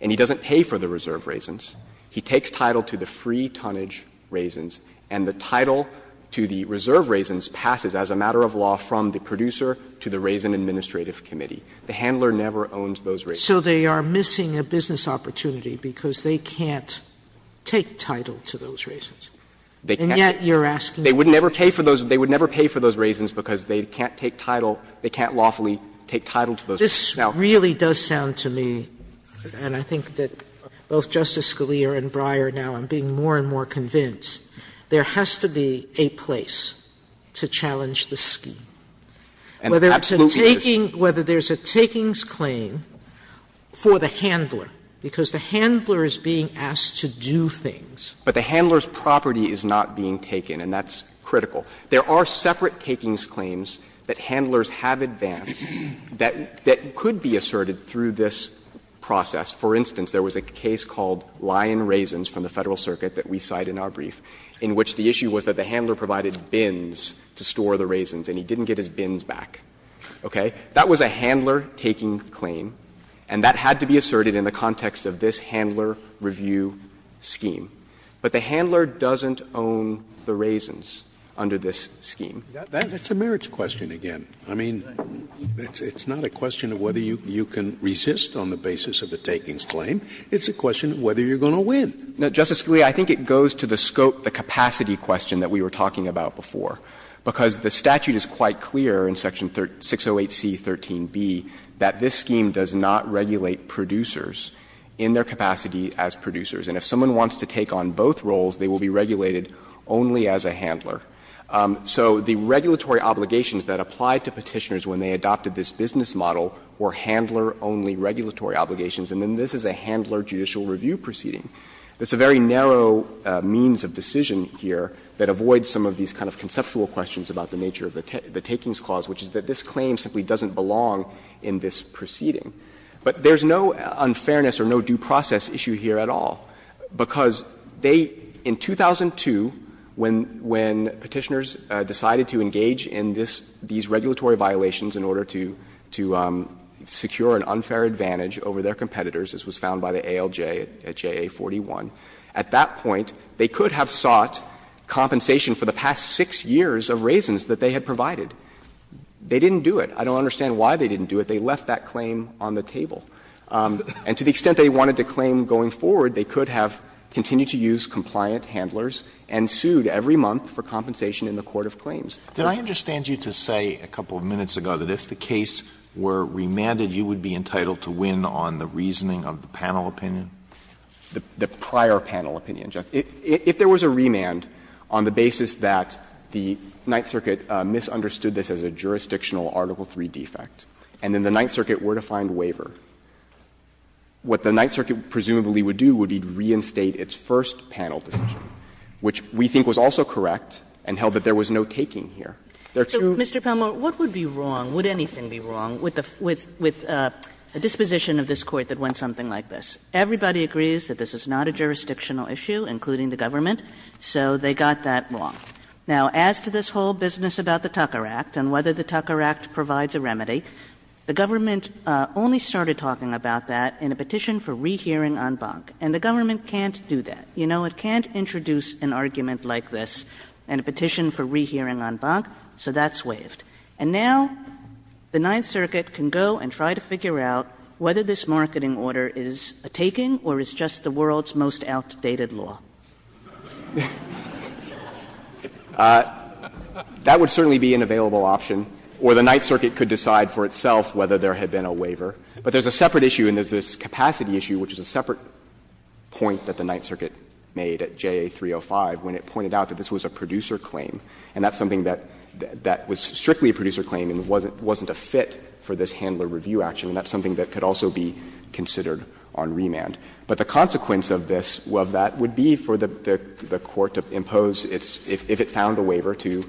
and he doesn't pay for the reserve raisins. He takes title to the free tonnage raisins, and the title to the reserve raisins passes as a matter of law from the producer to the Raisin Administrative Committee. The handler never owns those raisins. Sotomayor, so they are missing a business opportunity because they can't take title to those raisins. And yet you're asking them to pay. They would never pay for those raisins because they can't take title, they can't lawfully take title to those raisins. Sotomayor, this really does sound to me, and I think that both Justice Scalia and Breyer now are being more and more convinced, there has to be a place to challenge the scheme. Whether it's a taking, whether there's a takings claim for the handler, because the handler is being asked to do things. But the handler's property is not being taken, and that's critical. There are separate takings claims that handlers have advanced that could be asserted through this process. For instance, there was a case called Lion Raisins from the Federal Circuit that we cite in our brief, in which the issue was that the handler provided bins to store the raisins, and he didn't get his bins back. Okay? That was a handler taking claim, and that had to be asserted in the context of this handler review scheme. But the handler doesn't own the raisins under this scheme. Scalia, I think it goes to the scope, the capacity question that we were talking about before, because the statute is quite clear in Section 608C.13b that this scheme does not regulate producers in their capacity as producers. So the regulatory obligations that apply to Petitioners when they adopted this business model were handler-only regulatory obligations, and then this is a handler judicial review proceeding. It's a very narrow means of decision here that avoids some of these kind of conceptual questions about the nature of the takings clause, which is that this claim simply doesn't belong in this proceeding. But there's no unfairness or no due process issue here at all, because this is a process that is not subject to any kind of regulatory obligation. So they, in 2002, when Petitioners decided to engage in this, these regulatory violations in order to secure an unfair advantage over their competitors, as was found by the ALJ at JA41, at that point they could have sought compensation for the past 6 years of raisins that they had provided. They didn't do it. I don't understand why they didn't do it. They left that claim on the table. And to the extent they wanted to claim going forward, they could have continued to use compliant handlers and sued every month for compensation in the court of claims. Alitoso, did I understand you to say a couple of minutes ago that if the case were remanded, you would be entitled to win on the reasoning of the panel opinion? The prior panel opinion, Justice. If there was a remand on the basis that the Ninth Circuit misunderstood this as a jurisdictional Article III defect and then the Ninth Circuit were to find waiver, what the Ninth Circuit presumably would do would be to reinstate its first panel decision, which we think was also correct and held that there was no taking here. They're true. Kagan. What would be wrong, would anything be wrong, with a disposition of this Court that went something like this? Everybody agrees that this is not a jurisdictional issue, including the government, so they got that wrong. Now, as to this whole business about the Tucker Act and whether the Tucker Act provides a remedy, the government only started talking about that in a petition for rehearing en banc, and the government can't do that. You know, it can't introduce an argument like this in a petition for rehearing en banc, so that's waived. And now the Ninth Circuit can go and try to figure out whether this marketing order is a taking or is just the world's most outdated law. That would certainly be an available option, or the Ninth Circuit could decide for itself whether there had been a waiver. But there's a separate issue, and there's this capacity issue, which is a separate point that the Ninth Circuit made at JA305 when it pointed out that this was a producer claim, and that's something that was strictly a producer claim and wasn't a fit for this handler review action, and that's something that could also be considered on remand. But the consequence of this, of that, would be for the court to impose its – if it found a waiver to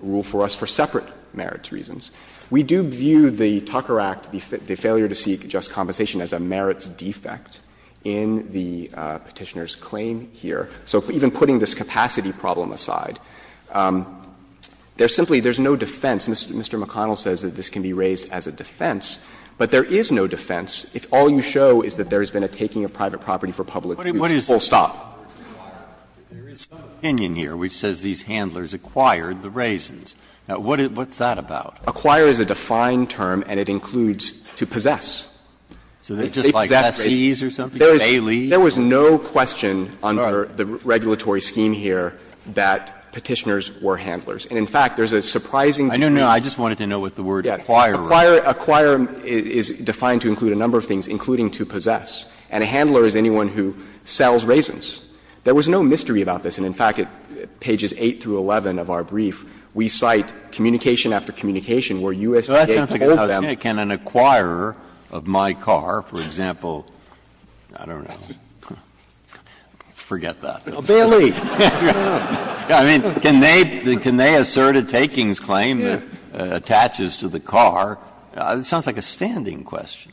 rule for us for separate merits reasons. We do view the Tucker Act, the failure to seek just compensation, as a merits defect in the Petitioner's claim here. So even putting this capacity problem aside, there's simply – there's no defense. Mr. McConnell says that this can be raised as a defense, but there is no defense if all you show is that there has been a taking of private property for public use, full stop. Breyer, there is some opinion here which says these handlers acquired the raisins. Now, what's that about? Acquire is a defined term, and it includes to possess. So they possess raisins. So they're just like lessees or something, baileys? There was no question under the regulatory scheme here that Petitioners were handlers. And in fact, there's a surprising degree of— No, no, I just wanted to know what the word acquirer meant. Acquirer is defined to include a number of things, including to possess. And a handler is anyone who sells raisins. There was no mystery about this. And in fact, at pages 8 through 11 of our brief, we cite communication after communication where USDA told them— Breyer, can an acquirer of my car, for example, I don't know, forget that. Bailey. I mean, can they assert a takings claim that attaches to the car? It sounds like a standing question.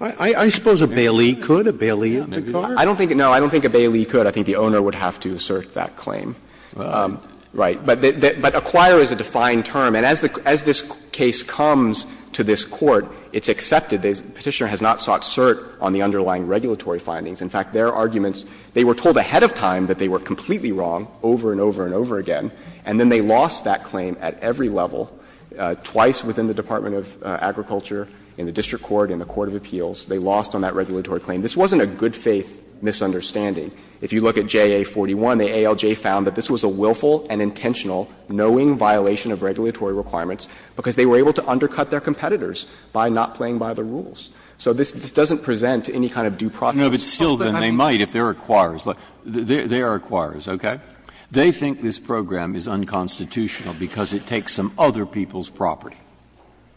I suppose a bailey could, a bailey of the car. I don't think a bailey could. I think the owner would have to assert that claim. Right. But acquire is a defined term. And as this case comes to this Court, it's accepted. The Petitioner has not sought cert on the underlying regulatory findings. In fact, their arguments, they were told ahead of time that they were completely wrong over and over and over again, and then they lost that claim at every level, twice within the Department of Agriculture, in the District Court, in the Court of Appeals, they lost on that regulatory claim. This wasn't a good faith misunderstanding. If you look at JA-41, the ALJ found that this was a willful and intentional knowing violation of regulatory requirements because they were able to undercut their competitors by not playing by the rules. So this doesn't present any kind of due process. Breyer. They think this program is unconstitutional because it takes some other people's property,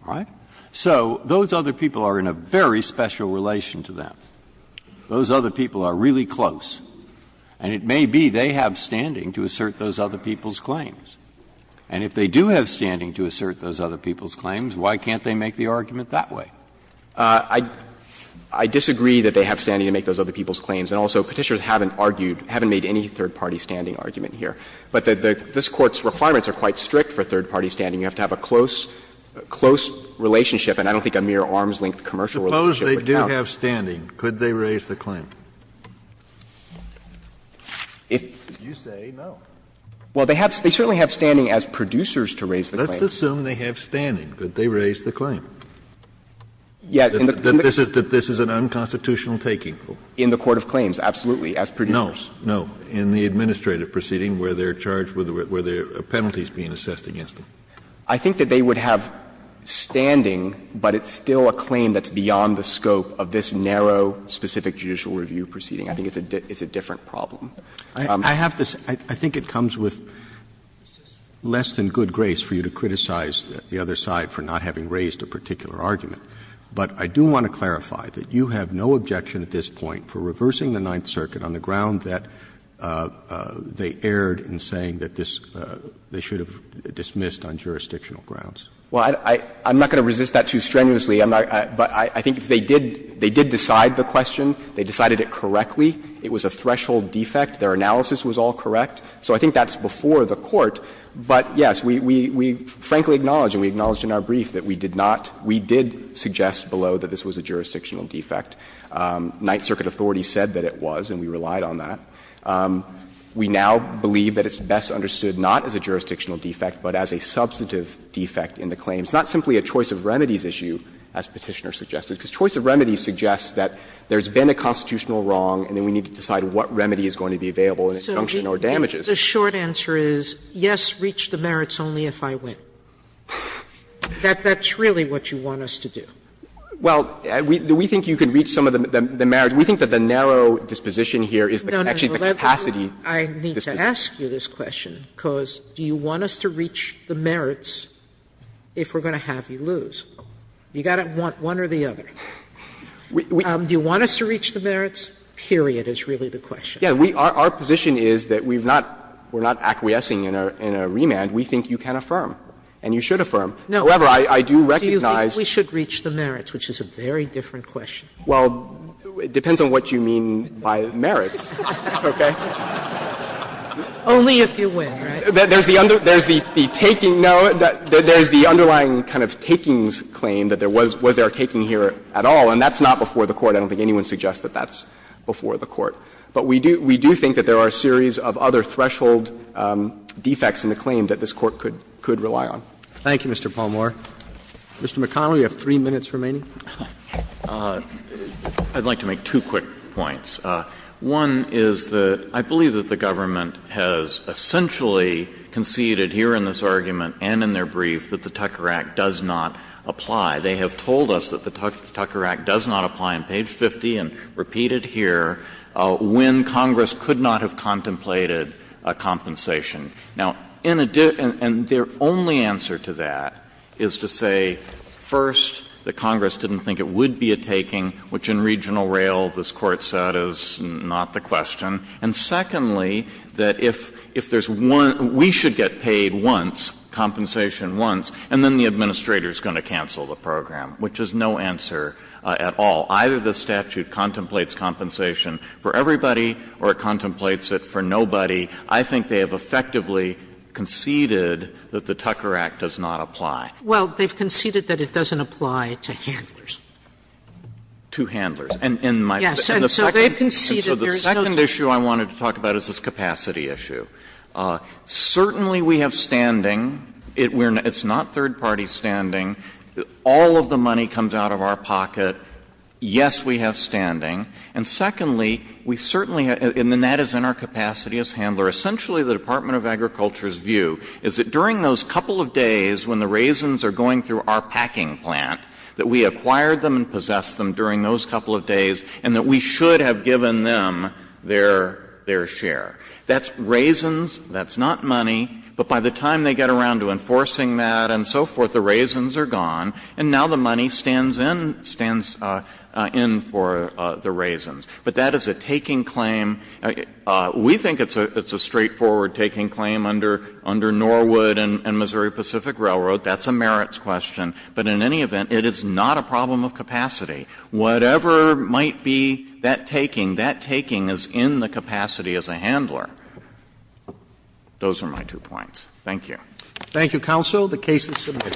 all right? So those other people are in a very special relation to them. Those other people are really close, and it may be they have standing to assert those other people's claims. And if they do have standing to assert those other people's claims, why can't they make the argument that way? I disagree that they have standing to make those other people's claims, and also Petitioners haven't argued, haven't made any third-party standing argument here. But this Court's requirements are quite strict for third-party standing. You have to have a close, close relationship, and I don't think a mere arm's-length commercial relationship would count. Suppose they do have standing, could they raise the claim? If you say no. Well, they certainly have standing as producers to raise the claim. Let's assume they have standing. Could they raise the claim? That this is an unconstitutional taking? In the court of claims, absolutely, as producers. No, no. In the administrative proceeding where they are charged with the penalties being assessed against them. I think that they would have standing, but it's still a claim that's beyond the scope of this narrow, specific judicial review proceeding. I think it's a different problem. I have to say, I think it comes with less than good grace for you to criticize the other side for not having raised a particular argument. But I do want to clarify that you have no objection at this point for reversing the Ninth Circuit on the ground that they erred in saying that this they should have dismissed on jurisdictional grounds. Well, I'm not going to resist that too strenuously, but I think they did decide the question. They decided it correctly. It was a threshold defect. Their analysis was all correct. So I think that's before the Court. But, yes, we frankly acknowledge and we acknowledged in our brief that we did not we did suggest below that this was a jurisdictional defect. Ninth Circuit authorities said that it was, and we relied on that. We now believe that it's best understood not as a jurisdictional defect, but as a substantive defect in the claims, not simply a choice of remedies issue, as Petitioner suggested. Because choice of remedies suggests that there's been a constitutional wrong, and then we need to decide what remedy is going to be available and its function or damages. Sotomayor, the short answer is, yes, reach the merits only if I win. That's really what you want us to do. Well, we think you can reach some of the merits. We think that the narrow disposition here is actually the capacity. No, no. I need to ask you this question, because do you want us to reach the merits if we're going to have you lose? You've got to want one or the other. Do you want us to reach the merits, period, is really the question. Yes, our position is that we've not, we're not acquiescing in a remand. We think you can affirm and you should affirm. However, I do recognize. Do you think we should reach the merits, which is a very different question? Well, it depends on what you mean by merits, okay? Only if you win, right? There's the under, there's the taking, no, there's the underlying kind of takings claim that there was, was there a taking here at all, and that's not before the Court. I don't think anyone suggests that that's before the Court. But we do, we do think that there are a series of other threshold defects in the claim that this Court could, could rely on. Thank you, Mr. Palmore. Mr. McConnell, you have three minutes remaining. I'd like to make two quick points. One is that I believe that the government has essentially conceded here in this argument and in their brief that the Tucker Act does not apply. They have told us that the Tucker Act does not apply on page 50 and repeated here, when Congress could not have contemplated a compensation. Now, in addition, and their only answer to that is to say, first, that Congress didn't think it would be a taking, which in regional rail this Court said is not the question, and secondly, that if, if there's one, we should get paid once, compensation once, and then the administrator is going to cancel the program, which is no answer at all. Either the statute contemplates compensation for everybody or it contemplates it for nobody. I think they have effectively conceded that the Tucker Act does not apply. Well, they've conceded that it doesn't apply to handlers. To handlers. And in my opinion, the second issue I wanted to talk about is this capacity issue. Certainly we have standing. It's not third-party standing. All of the money comes out of our pocket. Yes, we have standing. And secondly, we certainly have — and that is in our capacity as handler. Essentially, the Department of Agriculture's view is that during those couple of days when the raisins are going through our packing plant, that we acquired them and possessed them during those couple of days, and that we should have given them their, their share. That's raisins, that's not money, but by the time they get around to enforcing that and so forth, the raisins are gone, and now the money stands in, stands in for the raisins. But that is a taking claim. We think it's a straightforward taking claim under, under Norwood and, and Missouri Pacific Railroad. That's a merits question. But in any event, it is not a problem of capacity. Whatever might be that taking, that taking is in the capacity as a handler. Those are my two points. Thank you. Thank you, Counsel. The case is submitted.